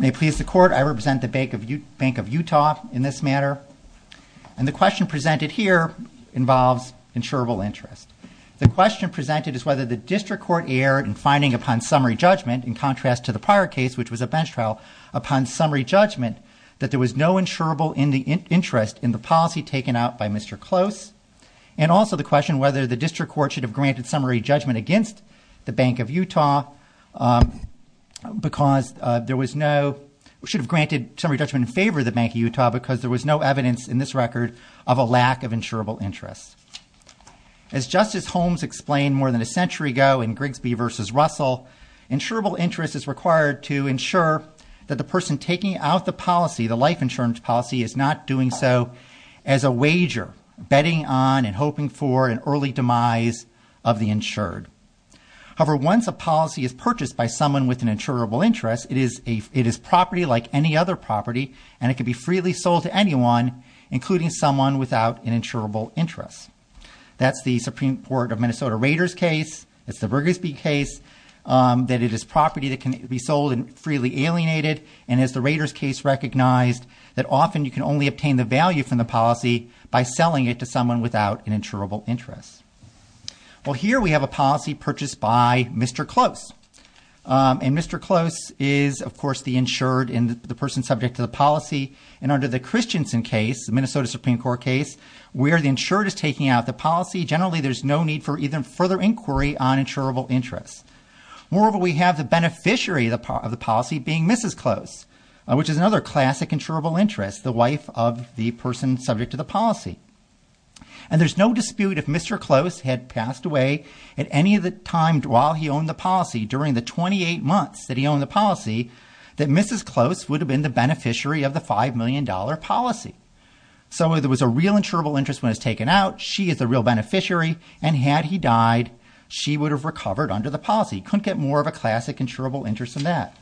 May it please the Court, I represent the Bank of Utah in this matter, and the question presented here involves insurable interest. The question presented is whether the District Court erred in finding upon summary judgment, in contrast to the prior case, which was a bench trial, upon summary judgment, that there was no insurable interest in the policy taken out by Mr. Close, and also the question whether the District Court should have granted summary judgment against the Bank of Utah because there was no, should have granted summary judgment in favor of the Bank of Utah because there was no evidence in this record of a lack of insurable interest. As Justice Holmes explained more than a century ago in Grigsby v. Russell, insurable interest is required to the person taking out the policy, the life insurance policy, is not doing so as a wager, betting on and hoping for an early demise of the insured. However, once a policy is purchased by someone with an insurable interest, it is property like any other property, and it can be freely sold to anyone, including someone without an insurable interest. That's the Supreme Court of Minnesota Rader's case, that's the Grigsby case, that it is property that can be sold and freely alienated, and as the Rader's case recognized, that often you can only obtain the value from the policy by selling it to someone without an insurable interest. Well, here we have a policy purchased by Mr. Close, and Mr. Close is, of course, the insured and the person subject to the policy, and under the Christensen case, the Minnesota Supreme Court case, where the insured is taking out the policy, generally there's no need for even further inquiry on insurable interest. Moreover, we have the beneficiary of the policy being Mrs. Close, which is another classic insurable interest, the wife of the person subject to the policy, and there's no dispute if Mr. Close had passed away at any of the time while he owned the policy, during the 28 months that he owned the policy, that Mrs. Close would have been the beneficiary of the five million dollar policy. So if there was a real insurable interest when it was taken out, she is the real beneficiary, and had he died, she would have recovered under the policy. Couldn't get more of a classic insurable interest than that.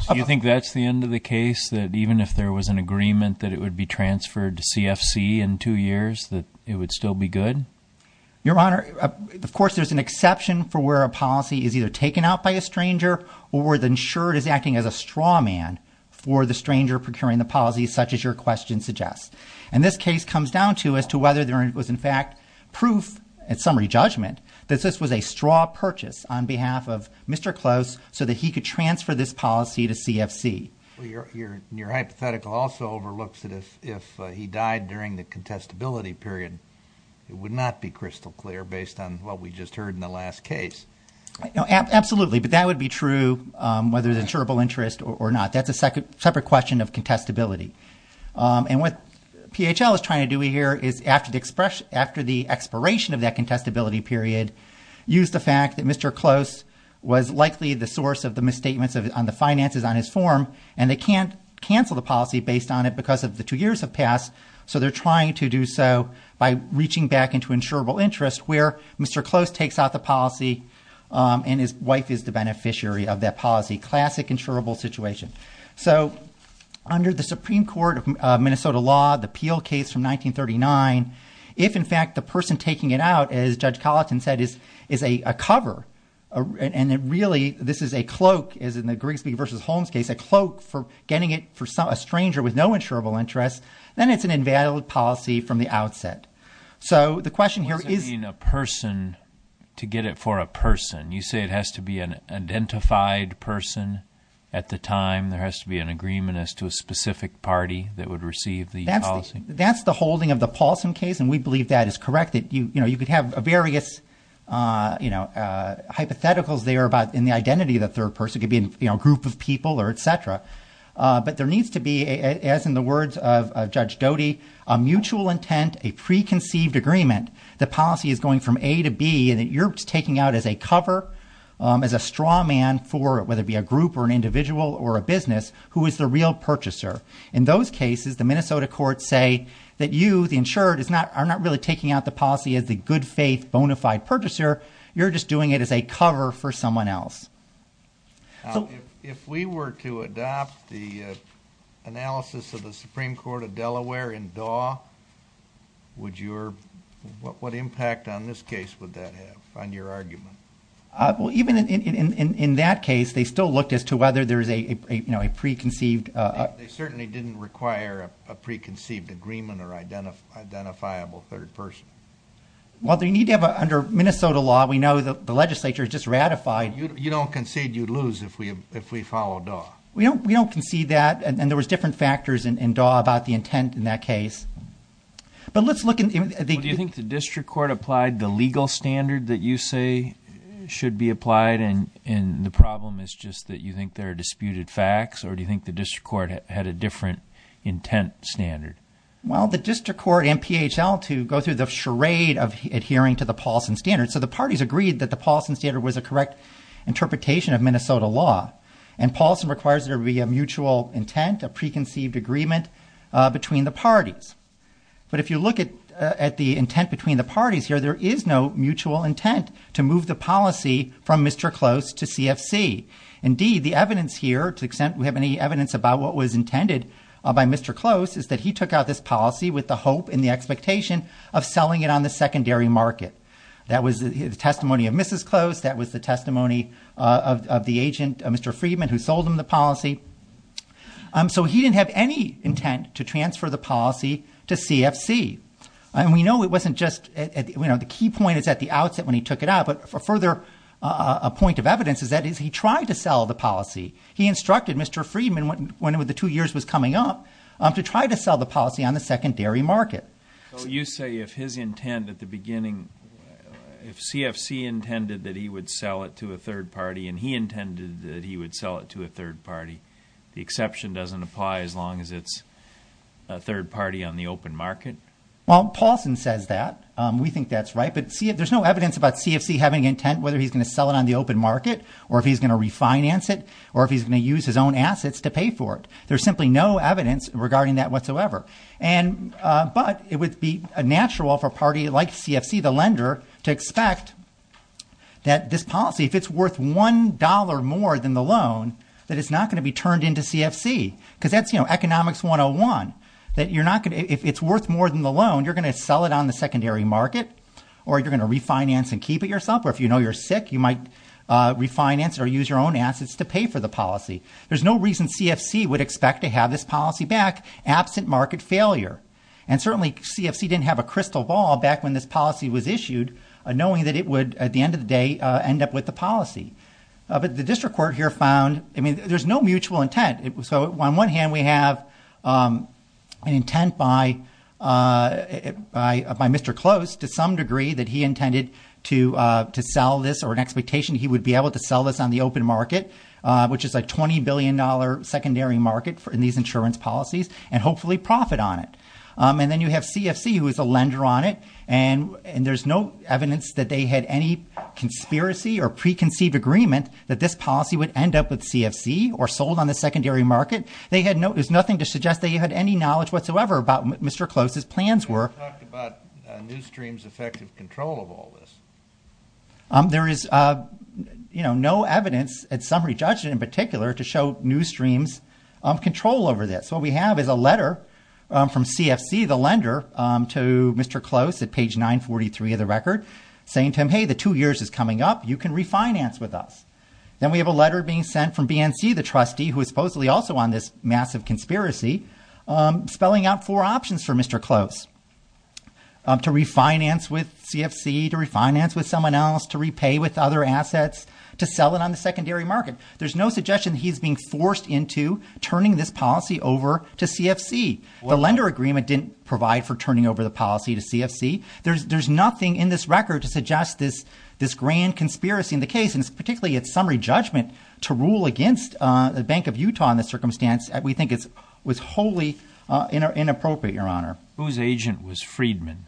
So you think that's the end of the case, that even if there was an agreement that it would be transferred to CFC in two years, that it would still be good? Your Honor, of course, there's an exception for where a policy is either taken out by a stranger or the insured is acting as a straw man for the stranger procuring the policy, such as your question suggests. And this case comes down to as to whether there was, in fact, proof, at summary judgment, that this was a straw purchase on behalf of Mr. Close so that he could transfer this policy to CFC. Your hypothetical also overlooks that if he died during the contestability period, it would not be crystal clear based on what we just heard in the last case. Absolutely, but that would be true, whether the insurable interest or not. That's a separate question of contestability. And what PHL is trying to do here is after the expression, after the expiration of that contestability period, use the fact that Mr. Close was likely the source of the misstatements on the finances on his form, and they can't cancel the policy based on it because of the two years have passed. So they're trying to do so by reaching back into insurable interest, where Mr. Close takes out the policy and his wife is the beneficiary of that policy. Classic insurable situation. So under the Supreme Court of Minnesota law, the Peel case from 1939, if, in fact, the person taking it out, as Judge Colleton said, is a cover, and it really, this is a cloak, as in the Grigsby v. Holmes case, a cloak for getting it for a stranger with no insurable interest, then it's an invalid policy from the outset. So the question here is- get it for a person. You say it has to be an identified person at the time, there has to be an agreement as to a specific party that would receive the policy? That's the holding of the Paulson case, and we believe that is correct, that you could have various hypotheticals there about in the identity of the third person. It could be a group of people or et cetera. But there needs to be, as in the words of Judge Doty, a mutual intent, a preconceived agreement, the policy is going from A to B, and that you're taking out as a cover, as a straw man for, whether it be a group or an individual or a business, who is the real purchaser. In those cases, the Minnesota courts say that you, the insured, are not really taking out the policy as the good faith bona fide purchaser, you're just doing it as a cover for someone else. If we were to adopt the analysis of the Supreme Court of Delaware in DAW, would your, what impact on this case would that have on your argument? Well, even in that case, they still looked as to whether there's a preconceived... They certainly didn't require a preconceived agreement or identifiable third person. Well, they need to have, under Minnesota law, we know that the legislature has just ratified... You don't concede you lose if we follow DAW. We don't concede that, and there was different factors in DAW about the intent in that case. But let's look at the... Do you think the district court applied the legal standard that you say should be applied, and the problem is just that you think there are disputed facts, or do you think the district court had a different intent standard? Well, the district court and PHL, to go through the charade of adhering to the Paulson standard. So the parties agreed that the Paulson standard was a correct interpretation of Minnesota law, and Paulson requires there to be a mutual intent, a preconceived agreement between the parties. But if you look at the intent between the parties here, there is no mutual intent to move the policy from Mr. Close to CFC. Indeed, the evidence here, to the extent we have any evidence about what was intended by Mr. Close, is that he took out this policy with the hope and the expectation of selling it on the secondary market. That was the testimony of Mrs. Close. That was the testimony of the agent, Mr. Friedman, who sold him the policy. So he didn't have any intent to transfer the policy to CFC. And we know it wasn't just, you know, the key point is at the outset when he took it out, but a further point of evidence is that he tried to sell the policy. He instructed Mr. Friedman, when the two years was coming up, to try to sell the policy on the secondary market. So you say if his intent at the beginning, if CFC intended that he would sell it to a third party, and he intended that he would sell it to a third party, the exception doesn't apply as long as it's a third party on the open market? Well, Paulson says that. We think that's right. But there's no evidence about CFC having intent, whether he's going to sell it on the open market, or if he's going to refinance it, or if he's going to use his own assets to pay for it. There's simply no evidence regarding that whatsoever. But it would be natural for a party like CFC, the lender, to expect that this policy, if it's worth $1 more than the loan, that it's not going to be turned into CFC. Because that's economics 101, that if it's worth more than the loan, you're going to sell it on the secondary market, or you're going to refinance and keep it yourself. Or if you know you're sick, you might refinance or use your own assets to pay for the policy. There's no reason CFC would expect to have this policy back absent market failure. And certainly, CFC didn't have a crystal ball back when this policy was issued, knowing that it would, at the end of the day, end up with the policy. But the district court here found, I mean, there's no mutual intent. So on one hand, we have an intent by Mr. Close, to some degree, that he intended to sell this, or an expectation he would be able to sell this on the open market, which is a $20 billion secondary market in these insurance policies, and hopefully profit on it. And then you have CFC, who is a lender on it. And there's no evidence that they had any conspiracy or preconceived agreement that this policy would end up with CFC, or sold on the secondary market. They had no, there's nothing to suggest they had any knowledge whatsoever about Mr. Close's plans were. You haven't talked about Newsstream's effective control of all this. There is no evidence, at Summary Judging in particular, to show Newsstream's control over this. What we have is a letter from CFC, the lender, to Mr. Close at page 943 of the record, saying to him, hey, the two years is coming up, you can refinance with us. Then we have a letter being sent from BNC, the trustee, who is supposedly also on this massive conspiracy, spelling out four options for Mr. Close. To refinance with CFC, to refinance with someone else, to repay with other assets, to sell it on the secondary market. There's no suggestion he's being forced into turning this policy over to CFC. The lender agreement didn't provide for turning over the policy to CFC. There's nothing in this record to suggest this grand conspiracy in the case, and particularly at Summary Judgment, to rule against the Bank of Utah in this circumstance. We think it was wholly inappropriate, Your Honor. Whose agent was Friedman?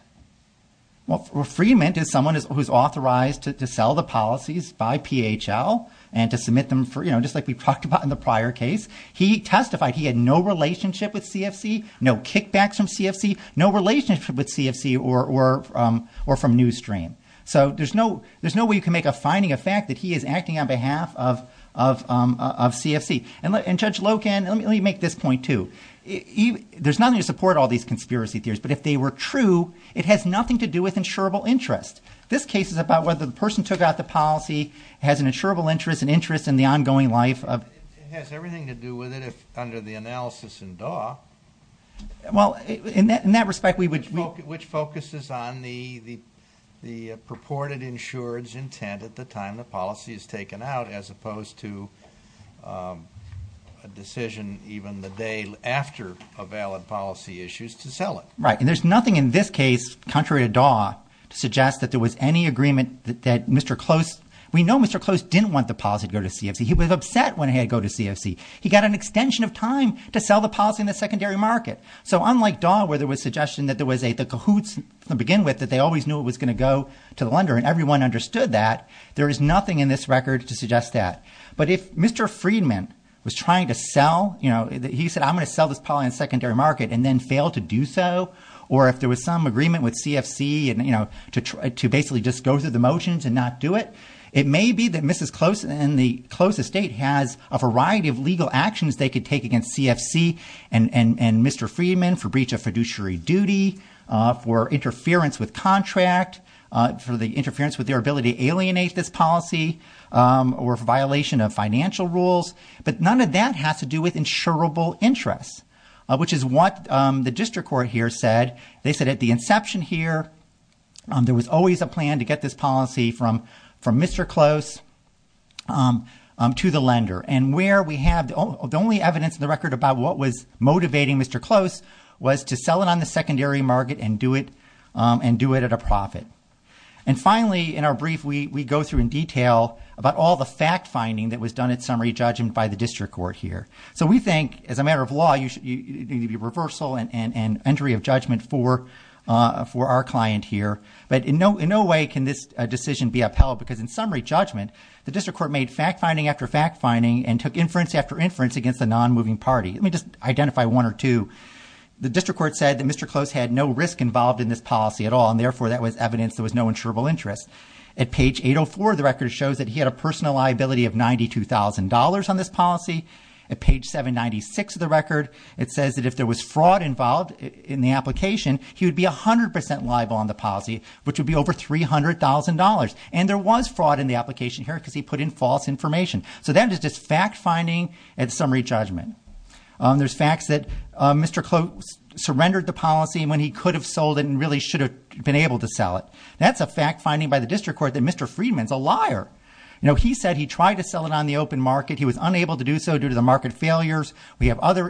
Well, Friedman is someone who's authorized to sell the policies by PHL and to submit just like we talked about in the prior case. He testified he had no relationship with CFC, no kickbacks from CFC, no relationship with CFC or from NewsStream. So there's no way you can make a finding of fact that he is acting on behalf of CFC. And Judge Loken, let me make this point, too. There's nothing to support all these conspiracy theories, but if they were true, it has nothing to do with insurable interest. This case is about whether the person took out the policy, has an insurable interest, an interest in the ongoing life of— It has everything to do with it under the analysis in Daw. Well, in that respect, we would— Which focuses on the purported insurer's intent at the time the policy is taken out as opposed to a decision even the day after a valid policy issue is to sell it. Right. And there's nothing in this case, contrary to Daw, to suggest that there was any agreement that Mr. Close— We know Mr. Close didn't want the policy to go to CFC. He was upset when it had to go to CFC. He got an extension of time to sell the policy in the secondary market. So unlike Daw, where there was suggestion that there was a— the cahoots to begin with, that they always knew it was going to go to the lender, and everyone understood that, there is nothing in this record to suggest that. But if Mr. Friedman was trying to sell— He said, I'm going to sell this policy in the secondary market and then failed to do or if there was some agreement with CFC to basically just go through the motions and not do it, it may be that Mrs. Close and the Close estate has a variety of legal actions they could take against CFC and Mr. Friedman for breach of fiduciary duty, for interference with contract, for the interference with their ability to alienate this policy, or violation of financial rules. But none of that has to do with insurable interests, which is what the district court here said. They said at the inception here, there was always a plan to get this policy from Mr. Close to the lender. And where we have— the only evidence in the record about what was motivating Mr. Close was to sell it on the secondary market and do it at a profit. And finally, in our brief, we go through in detail about all the fact-finding that was done at summary judgment by the district court here. So we think, as a matter of law, you need a reversal and entry of judgment for our client here. But in no way can this decision be upheld because in summary judgment, the district court made fact-finding after fact-finding and took inference after inference against a non-moving party. Let me just identify one or two. The district court said that Mr. Close had no risk involved in this policy at all and therefore that was evidence there was no insurable interest. At page 804, the record shows that he had a personal liability of $92,000 on this policy. At page 796 of the record, it says that if there was fraud involved in the application, he would be 100% liable on the policy, which would be over $300,000. And there was fraud in the application here because he put in false information. So that is just fact-finding at summary judgment. There's facts that Mr. Close surrendered the policy when he could have sold it and really should have been able to sell it. That's a fact-finding by the district court that Mr. Friedman's a liar. You know, he said he tried to sell it on the open market. He was unable to do so due to the market failures. We have other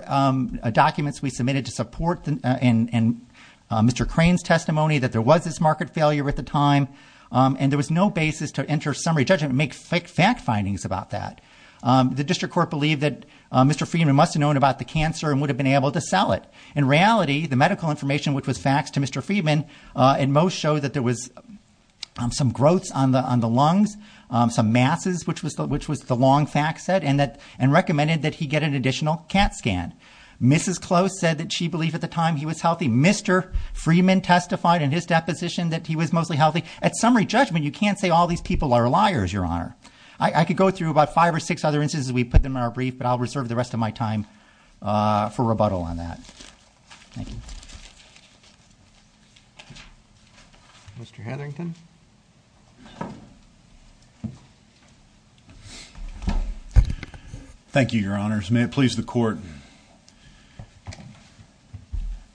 documents we submitted to support Mr. Crane's testimony that there was this market failure at the time and there was no basis to enter summary judgment and make fact-findings about that. The district court believed that Mr. Friedman must have known about the cancer and would have been able to sell it. In reality, the medical information which was faxed to Mr. Friedman and most showed that there was some growths on the lungs, some masses, which was the long fax set, and recommended that he get an additional CAT scan. Mrs. Close said that she believed at the time he was healthy. Mr. Friedman testified in his deposition that he was mostly healthy. At summary judgment, you can't say all these people are liars, Your Honor. I could go through about five or six other instances. We put them in our brief, but I'll reserve the rest of my time for rebuttal on that. Thank you. Mr. Hetherington. Thank you, Your Honors. May it please the Court.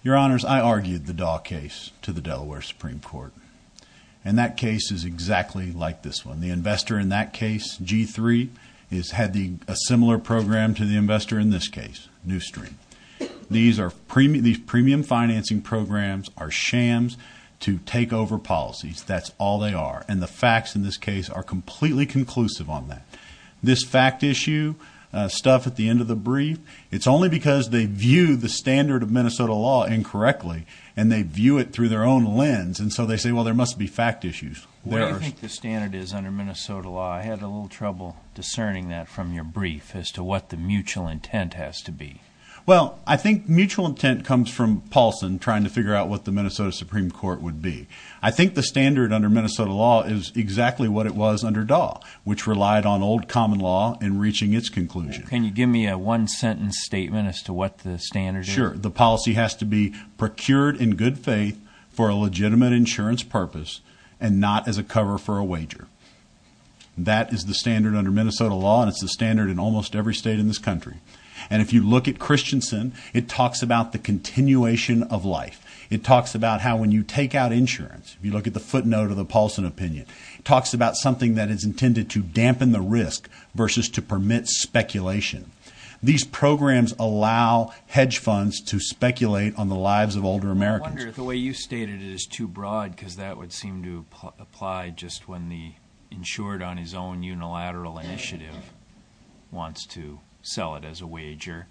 Your Honors, I argued the Daw case to the Delaware Supreme Court, and that case is exactly like this one. The investor in that case, G3, has had a similar program to the investor in this case, New Stream. These premium financing programs are shams to takeover policies. That's all they are. And the facts in this case are completely conclusive on that. This fact issue stuff at the end of the brief, it's only because they view the standard of Minnesota law incorrectly, and they view it through their own lens. And so they say, well, there must be fact issues. What do you think the standard is under Minnesota law? I had a little trouble discerning that from your brief as to what the mutual intent has to be. Well, I think mutual intent comes from Paulson trying to figure out what the Minnesota Supreme Court would be. I think the standard under Minnesota law is exactly what it was under Daw, which relied on old common law in reaching its conclusion. Can you give me a one-sentence statement as to what the standard is? Sure. The policy has to be procured in good faith for a legitimate insurance purpose and not as a cover for a wager. That is the standard under Minnesota law, and it's the standard in almost every state in this country. And if you look at Christensen, it talks about the continuation of life. It talks about how when you take out insurance, if you look at the footnote of the Paulson opinion, it talks about something that is intended to dampen the risk versus to permit speculation. These programs allow hedge funds to speculate on the lives of older Americans. I wonder if the way you stated it is too broad, because that would seem to apply just when the insured on his own unilateral initiative wants to sell it as a wager.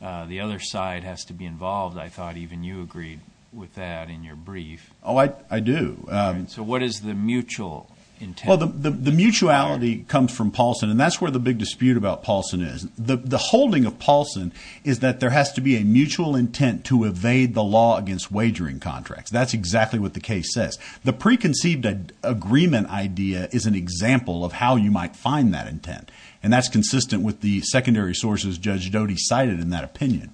The other side has to be involved. I thought even you agreed with that in your brief. Oh, I do. So what is the mutual intent? Well, the mutuality comes from Paulson, and that's where the big dispute about Paulson is. The holding of Paulson is that there has to be a mutual intent to evade the law against wagering contracts. That's exactly what the case says. The preconceived agreement idea is an example of how you might find that intent, and that's consistent with the secondary sources Judge Doty cited in that opinion.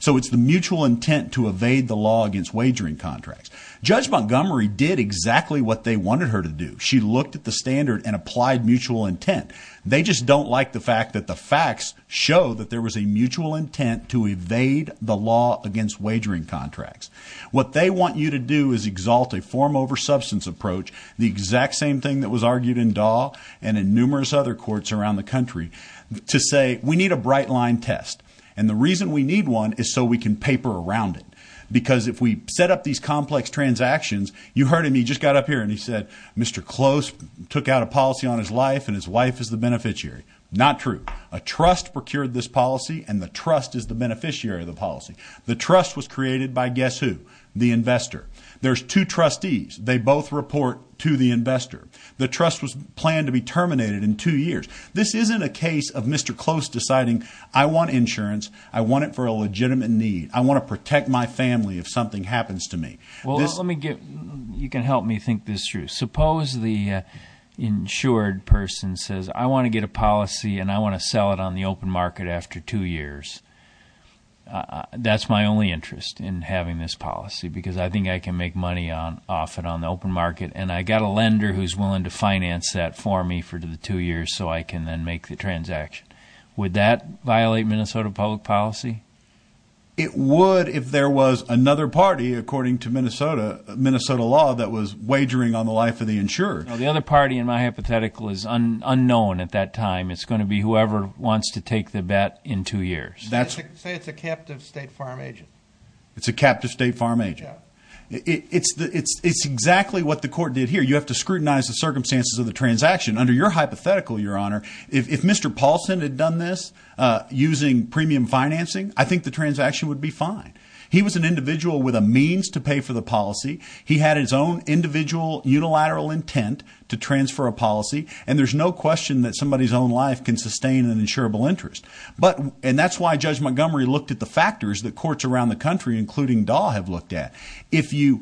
So it's the mutual intent to evade the law against wagering contracts. Judge Montgomery did exactly what they wanted her to do. She looked at the standard and applied mutual intent. They just don't like the fact that the facts show that there was a mutual intent to evade the law against wagering contracts. What they want you to do is exalt a form over substance approach, the exact same thing that was argued in Dahl and in numerous other courts around the country, to say we need a bright line test. And the reason we need one is so we can paper around it. Because if we set up these complex transactions, you heard him, he just got up here and he said Mr. Close took out a policy on his life and his wife is the beneficiary. Not true. A trust procured this policy and the trust is the beneficiary of the policy. The trust was created by guess who? The investor. There's two trustees. They both report to the investor. The trust was planned to be terminated in two years. This isn't a case of Mr. Close deciding I want insurance. I want it for a legitimate need. I want to protect my family if something happens to me. You can help me think this through. Suppose the insured person says I want to get a policy and I want to sell it on the open market after two years. That's my only interest in having this policy because I think I can make money off it on the open market and I got a lender who's willing to finance that for me for the two years so I can then make the transaction. Would that violate Minnesota public policy? It would if there was another party, according to Minnesota law, that was wagering on the life of the insurer. The other party in my hypothetical is unknown at that time. It's going to be whoever wants to take the bet in two years. Say it's a captive state farm agent. It's a captive state farm agent. It's exactly what the court did here. You have to scrutinize the circumstances of the transaction. Under your hypothetical, Your Honor, if Mr. Paulson had done this using premium financing, I think the transaction would be fine. He was an individual with a means to pay for the policy. He had his own individual unilateral intent to transfer a policy and there's no question that somebody's own life can sustain an insurable interest. That's why Judge Montgomery looked at the factors that courts around the country, including Dahl, have looked at. If you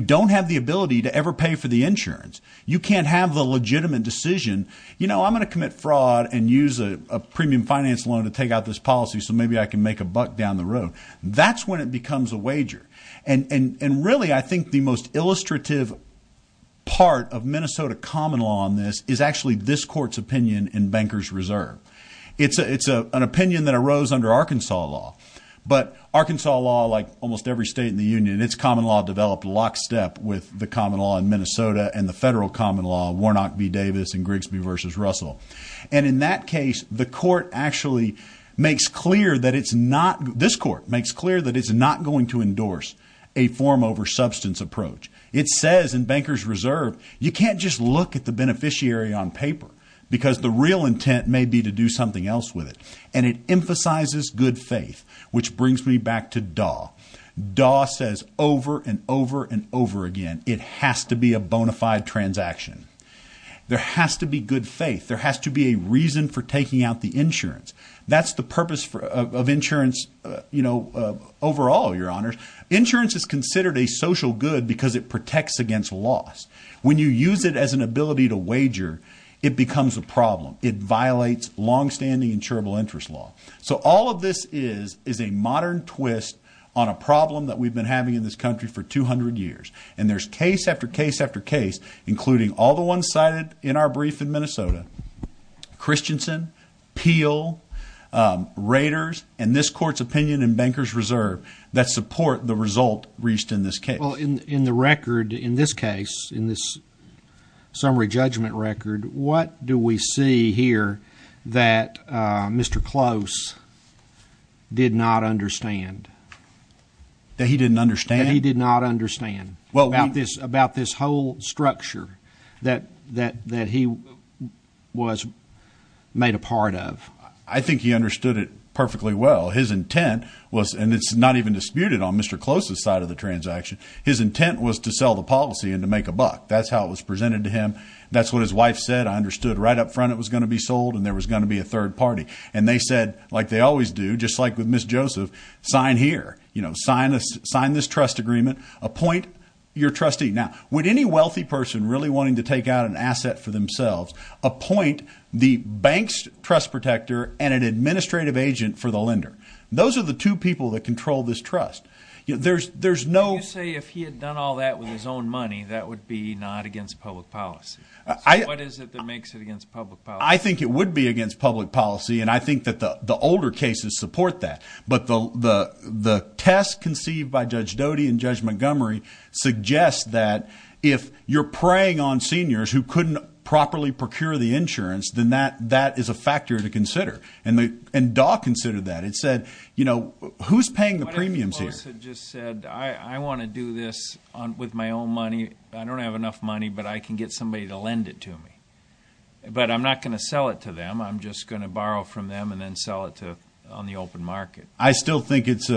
don't have the ability to ever pay for the insurance, you can't have the legitimate decision, you know, I'm going to commit fraud and use a premium finance loan to take out this policy so maybe I can make a buck down the road. That's when it becomes a wager. Really, I think the most illustrative part of Minnesota common law on this is actually this court's opinion in Bankers Reserve. It's an opinion that arose under Arkansas law, but Arkansas law, like almost every state in the union, its common law developed lockstep with the common law in Minnesota and the federal common law, Warnock v. Davis and Grigsby v. Russell. And in that case, the court actually makes clear that it's not, this court makes clear that it's not going to endorse a form over substance approach. It says in Bankers Reserve, you can't just look at the beneficiary on paper because the intent may be to do something else with it. And it emphasizes good faith, which brings me back to DAW. DAW says over and over and over again, it has to be a bona fide transaction. There has to be good faith. There has to be a reason for taking out the insurance. That's the purpose of insurance, you know, overall, your honors. Insurance is considered a social good because it protects against loss. When you use it as an ability to wager, it becomes a problem. It violates longstanding insurable interest law. So all of this is a modern twist on a problem that we've been having in this country for 200 years. And there's case after case after case, including all the ones cited in our brief in Minnesota, Christensen, Peel, Raiders, and this court's opinion in Bankers Reserve that support the result reached in this case. Well, in the record, in this case, in this summary judgment record, what do we see here that Mr. Close did not understand? That he didn't understand? He did not understand about this whole structure that he was made a part of. I think he understood it perfectly well. His intent was, and it's not even disputed on Mr. Close's side of the transaction, his intent was to sell the policy and to make a buck. That's how it was presented to him. That's what his wife said. I understood right up front it was going to be sold and there was going to be a third party. And they said, like they always do, just like with Ms. Joseph, sign here, you know, sign this trust agreement, appoint your trustee. Now, would any wealthy person really wanting to take out an asset for themselves appoint the bank's trust protector and an administrative agent for the lender? Those are the two people that control this trust. There's no... You say if he had done all that with his own money, that would be not against public policy. What is it that makes it against public policy? I think it would be against public policy. And I think that the older cases support that. But the test conceived by Judge Doty and Judge Montgomery suggest that if you're preying on seniors who couldn't properly procure the insurance, then that is a factor to consider. And DAW considered that. It said, you know, who's paying the premiums here? What if he just said, I want to do this with my own money. I don't have enough money, but I can get somebody to lend it to me. But I'm not going to sell it to them. I'm just going to borrow from them and then sell it on the open market. I still think it's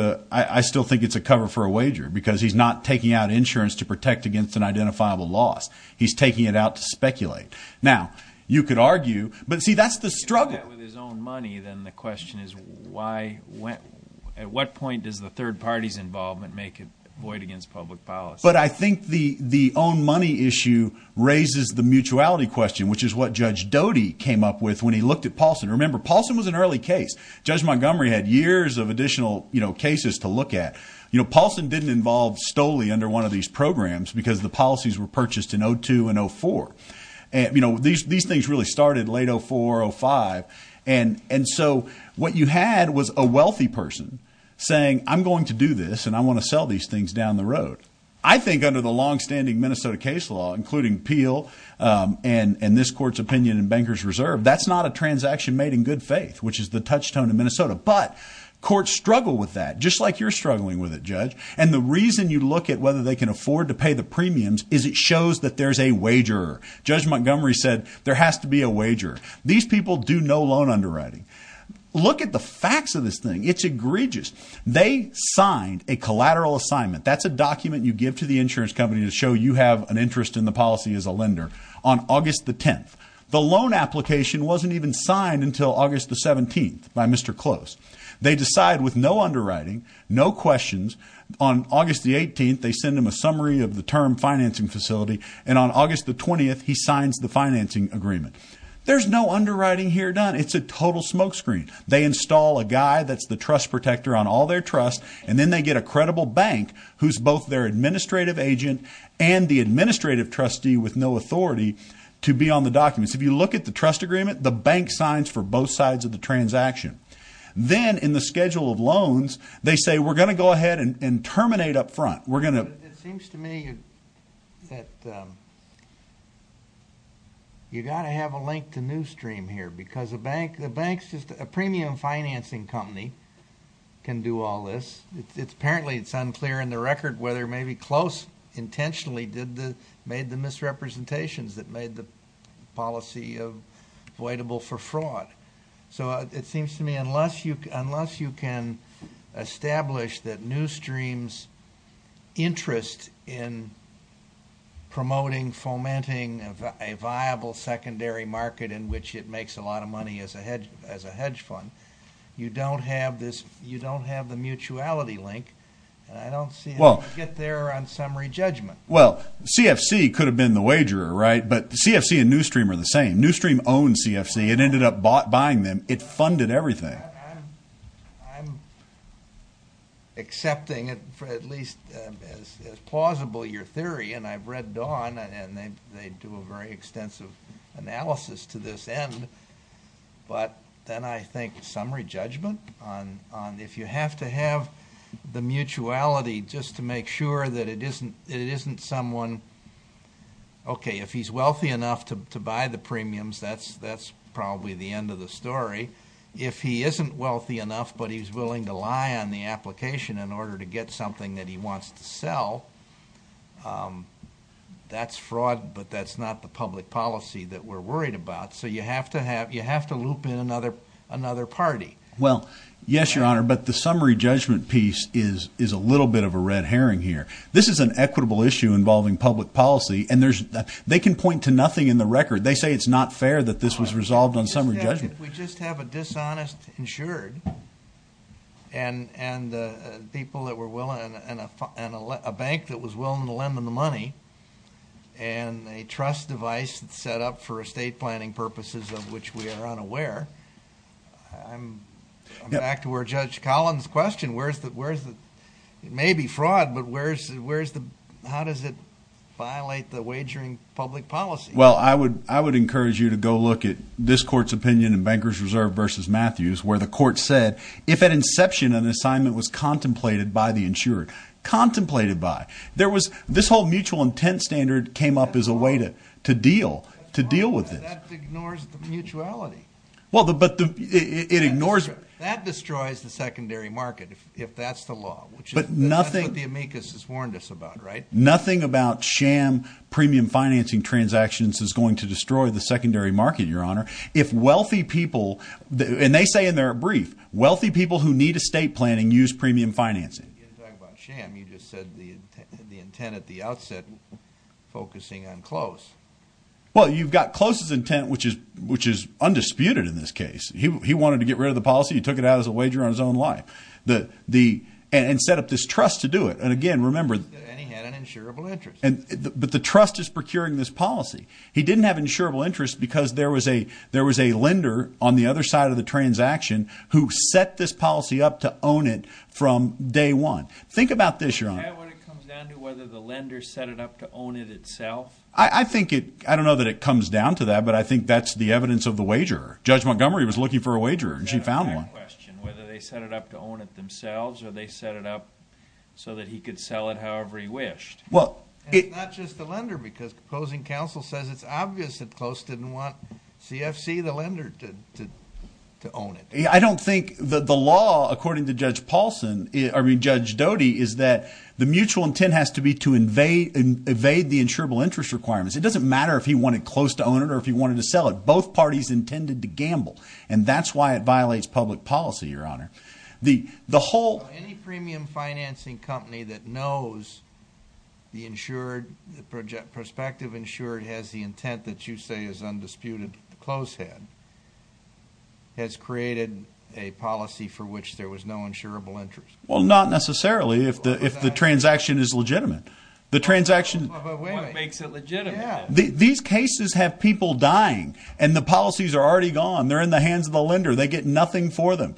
a cover for a wager because he's not taking out insurance to protect against an identifiable loss. He's taking it out to speculate. Now, you could argue. But see, that's the struggle. If he did that with his own money, then the question is, at what point does the third party's involvement make it void against public policy? But I think the own money issue raises the mutuality question, which is what Judge Doty came up with when he looked at Paulson. Remember, Paulson was an early case. Judge Montgomery had years of additional cases to look at. You know, Paulson didn't involve STOLI under one of these programs because the policies were purchased in 02 and 04. These things really started late 04, 05. And so what you had was a wealthy person saying, I'm going to do this, and I want to sell these things down the road. I think under the longstanding Minnesota case law, including Peel and this court's opinion in Bankers Reserve, that's not a transaction made in good faith, which is the touchstone in Minnesota. But courts struggle with that, just like you're struggling with it, Judge. And the reason you look at whether they can afford to pay the premiums is it shows that there's a wager. Judge Montgomery said there has to be a wager. These people do no loan underwriting. Look at the facts of this thing. It's egregious. They signed a collateral assignment. That's a document you give to the insurance company to show you have an interest in the policy as a lender on August the 10th. The loan application wasn't even signed until August the 17th by Mr. Close. They decide with no underwriting, no questions. On August the 18th, they send him a summary of the term financing facility. And on August the 20th, he signs the financing agreement. There's no underwriting here done. It's a total smokescreen. They install a guy that's the trust protector on all their trusts. And then they get a credible bank who's both their administrative agent and the administrative trustee with no authority to be on the documents. If you look at the trust agreement, the bank signs for both sides of the transaction. Then in the schedule of loans, they say, we're going to go ahead and terminate up front. We're going to... It seems to me that you got to have a link to new stream here because the bank's just a premium financing company can do all this. Apparently, it's unclear in the record whether maybe Close intentionally made the misrepresentations that made the policy avoidable for fraud. So it seems to me, unless you can establish that new stream's interest in promoting, fomenting a viable secondary market in which it makes a lot of money as a hedge fund, you don't have the mutuality link. And I don't see how you get there on summary judgment. Well, CFC could have been the wagerer, right? But CFC and new stream are the same. New stream owns CFC. It ended up buying them. It funded everything. I'm accepting it for at least as plausible your theory. And I've read Dawn and they do a very extensive analysis to this end. But then I think summary judgment on if you have to have the mutuality just to make sure that it isn't someone... That's probably the end of the story. If he isn't wealthy enough, but he's willing to lie on the application in order to get something that he wants to sell, that's fraud. But that's not the public policy that we're worried about. So you have to loop in another party. Well, yes, Your Honor. But the summary judgment piece is a little bit of a red herring here. This is an equitable issue involving public policy. And they can point to nothing in the record. They say it's not fair that this was resolved on summary judgment. If we just have a dishonest insured and people that were willing and a bank that was willing to lend them the money and a trust device that's set up for estate planning purposes of which we are unaware, I'm back to where Judge Collins' question. It may be fraud, but how does it violate the wagering public policy? I would encourage you to go look at this court's opinion in Bankers Reserve versus Matthews, where the court said, if at inception, an assignment was contemplated by the insured, contemplated by. This whole mutual intent standard came up as a way to deal with it. That ignores the mutuality. That destroys the secondary market, if that's the law, which is what the amicus has warned us about, right? Nothing about sham premium financing transactions is going to destroy the secondary market, Your Honor. If wealthy people, and they say in their brief, wealthy people who need estate planning use premium financing. You're talking about sham. You just said the intent at the outset, focusing on close. Well, you've got close's intent, which is undisputed in this case. He wanted to get rid of the policy. He took it out as a wager on his own life. And set up this trust to do it. Again, remember- And he had an insurable interest. But the trust is procuring this policy. He didn't have insurable interest because there was a lender on the other side of the transaction who set this policy up to own it from day one. Think about this, Your Honor. Is that what it comes down to, whether the lender set it up to own it itself? I don't know that it comes down to that, but I think that's the evidence of the wager. Judge Montgomery was looking for a wager, and she found one. I've got another question. Whether they set it up to own it themselves, or they set it up so that he could sell it however he wished. And it's not just the lender, because the opposing counsel says it's obvious that close didn't want CFC, the lender, to own it. I don't think the law, according to Judge Doty, is that the mutual intent has to be to evade the insurable interest requirements. It doesn't matter if he wanted close to own it or if he wanted to sell it. Both parties intended to gamble, and that's why it violates public policy. Any premium financing company that knows the prospective insured has the intent that you say is undisputed close had has created a policy for which there was no insurable interest. Well, not necessarily, if the transaction is legitimate. What makes it legitimate? These cases have people dying, and the policies are already gone. They're in the hands of the lender. They get nothing for them.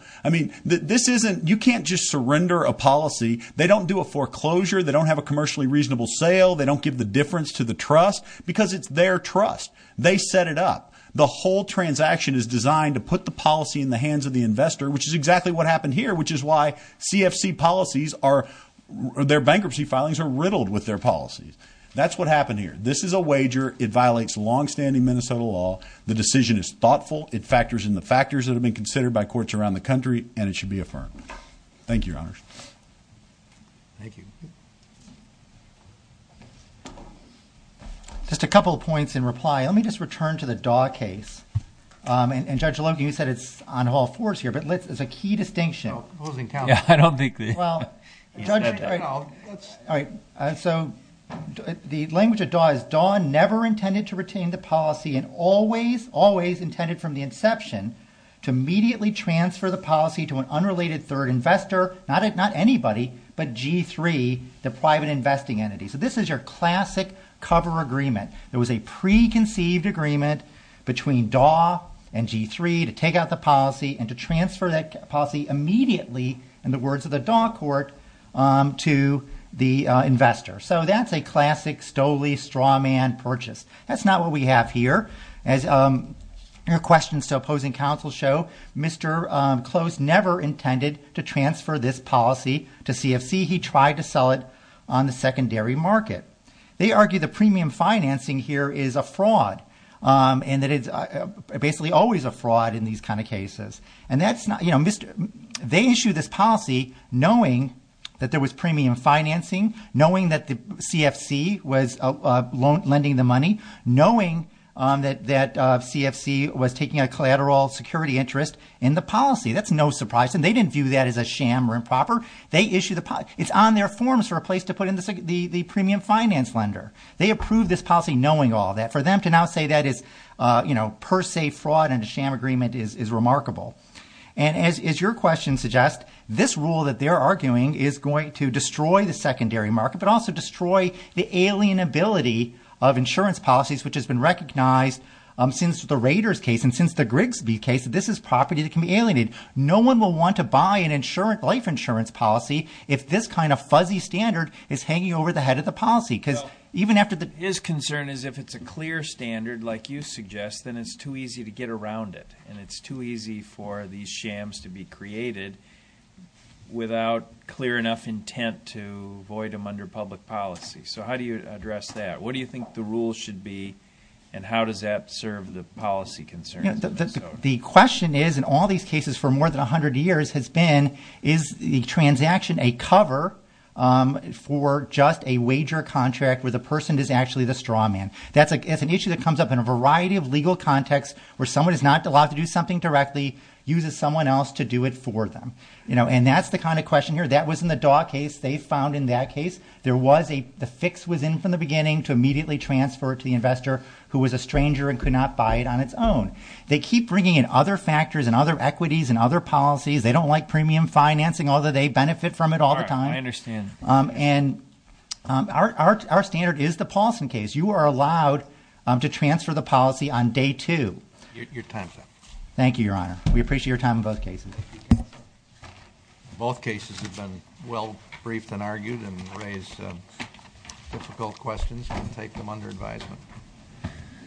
This isn't—you can't just surrender a policy. They don't do a foreclosure. They don't have a commercially reasonable sale. They don't give the difference to the trust, because it's their trust. They set it up. The whole transaction is designed to put the policy in the hands of the investor, which is exactly what happened here, which is why CFC policies are—their bankruptcy filings are riddled with their policies. That's what happened here. This is a wager. It violates longstanding Minnesota law. The decision is thoughtful. It factors in the factors that have been considered by courts around the country, and it should be affirmed. Thank you, Your Honors. Thank you. Just a couple of points in reply. Let me just return to the Daw case. And Judge Logan, you said it's on Hall 4's here, but it's a key distinction. No, opposing counsel. Yeah, I don't think the— Well, Judge— All right. So the language of Daw is, Daw never intended to retain the policy and always, always intended from the inception to immediately transfer the policy to an unrelated third investor, not anybody, but G3, the private investing entity. So this is your classic cover agreement. There was a preconceived agreement between Daw and G3 to take out the policy and to transfer that policy immediately, in the words of the Daw Court, to the investor. So that's a classic Stoley-Strawman purchase. That's not what we have here. As your questions to opposing counsel show, Mr. Close never intended to transfer this policy to CFC. He tried to sell it on the secondary market. They argue the premium financing here is a fraud and that it's basically always a fraud in these kind of cases. And that's not— They issue this policy knowing that there was premium financing, knowing that the CFC was lending the money, knowing that CFC was taking a collateral security interest in the policy. That's no surprise. And they didn't view that as a sham or improper. They issued the— It's on their forms for a place to put in the premium finance lender. They approved this policy knowing all that. For them to now say that is per se fraud and a sham agreement is remarkable. And as your question suggests, this rule that they're arguing is going to destroy the alienability of insurance policies, which has been recognized since the Raiders case and since the Grigsby case. This is property that can be alienated. No one will want to buy an insurance—life insurance policy if this kind of fuzzy standard is hanging over the head of the policy because even after the— His concern is if it's a clear standard like you suggest, then it's too easy to get around it and it's too easy for these shams to be created without clear enough intent to void them under public policy. So how do you address that? What do you think the rule should be? And how does that serve the policy concerns? The question is, in all these cases for more than 100 years, has been, is the transaction a cover for just a wager contract where the person is actually the straw man? That's an issue that comes up in a variety of legal contexts where someone is not allowed to do something directly, uses someone else to do it for them. And that's the kind of question here. That was in the Daw case. They found in that case there was a—the fix was in from the beginning to immediately transfer it to the investor who was a stranger and could not buy it on its own. They keep bringing in other factors and other equities and other policies. They don't like premium financing, although they benefit from it all the time. I understand. And our standard is the Paulson case. You are allowed to transfer the policy on day two. Your time, sir. Thank you, Your Honor. We appreciate your time on both cases. Both cases have been well-briefed and argued and raised difficult questions. We'll take them under advisement.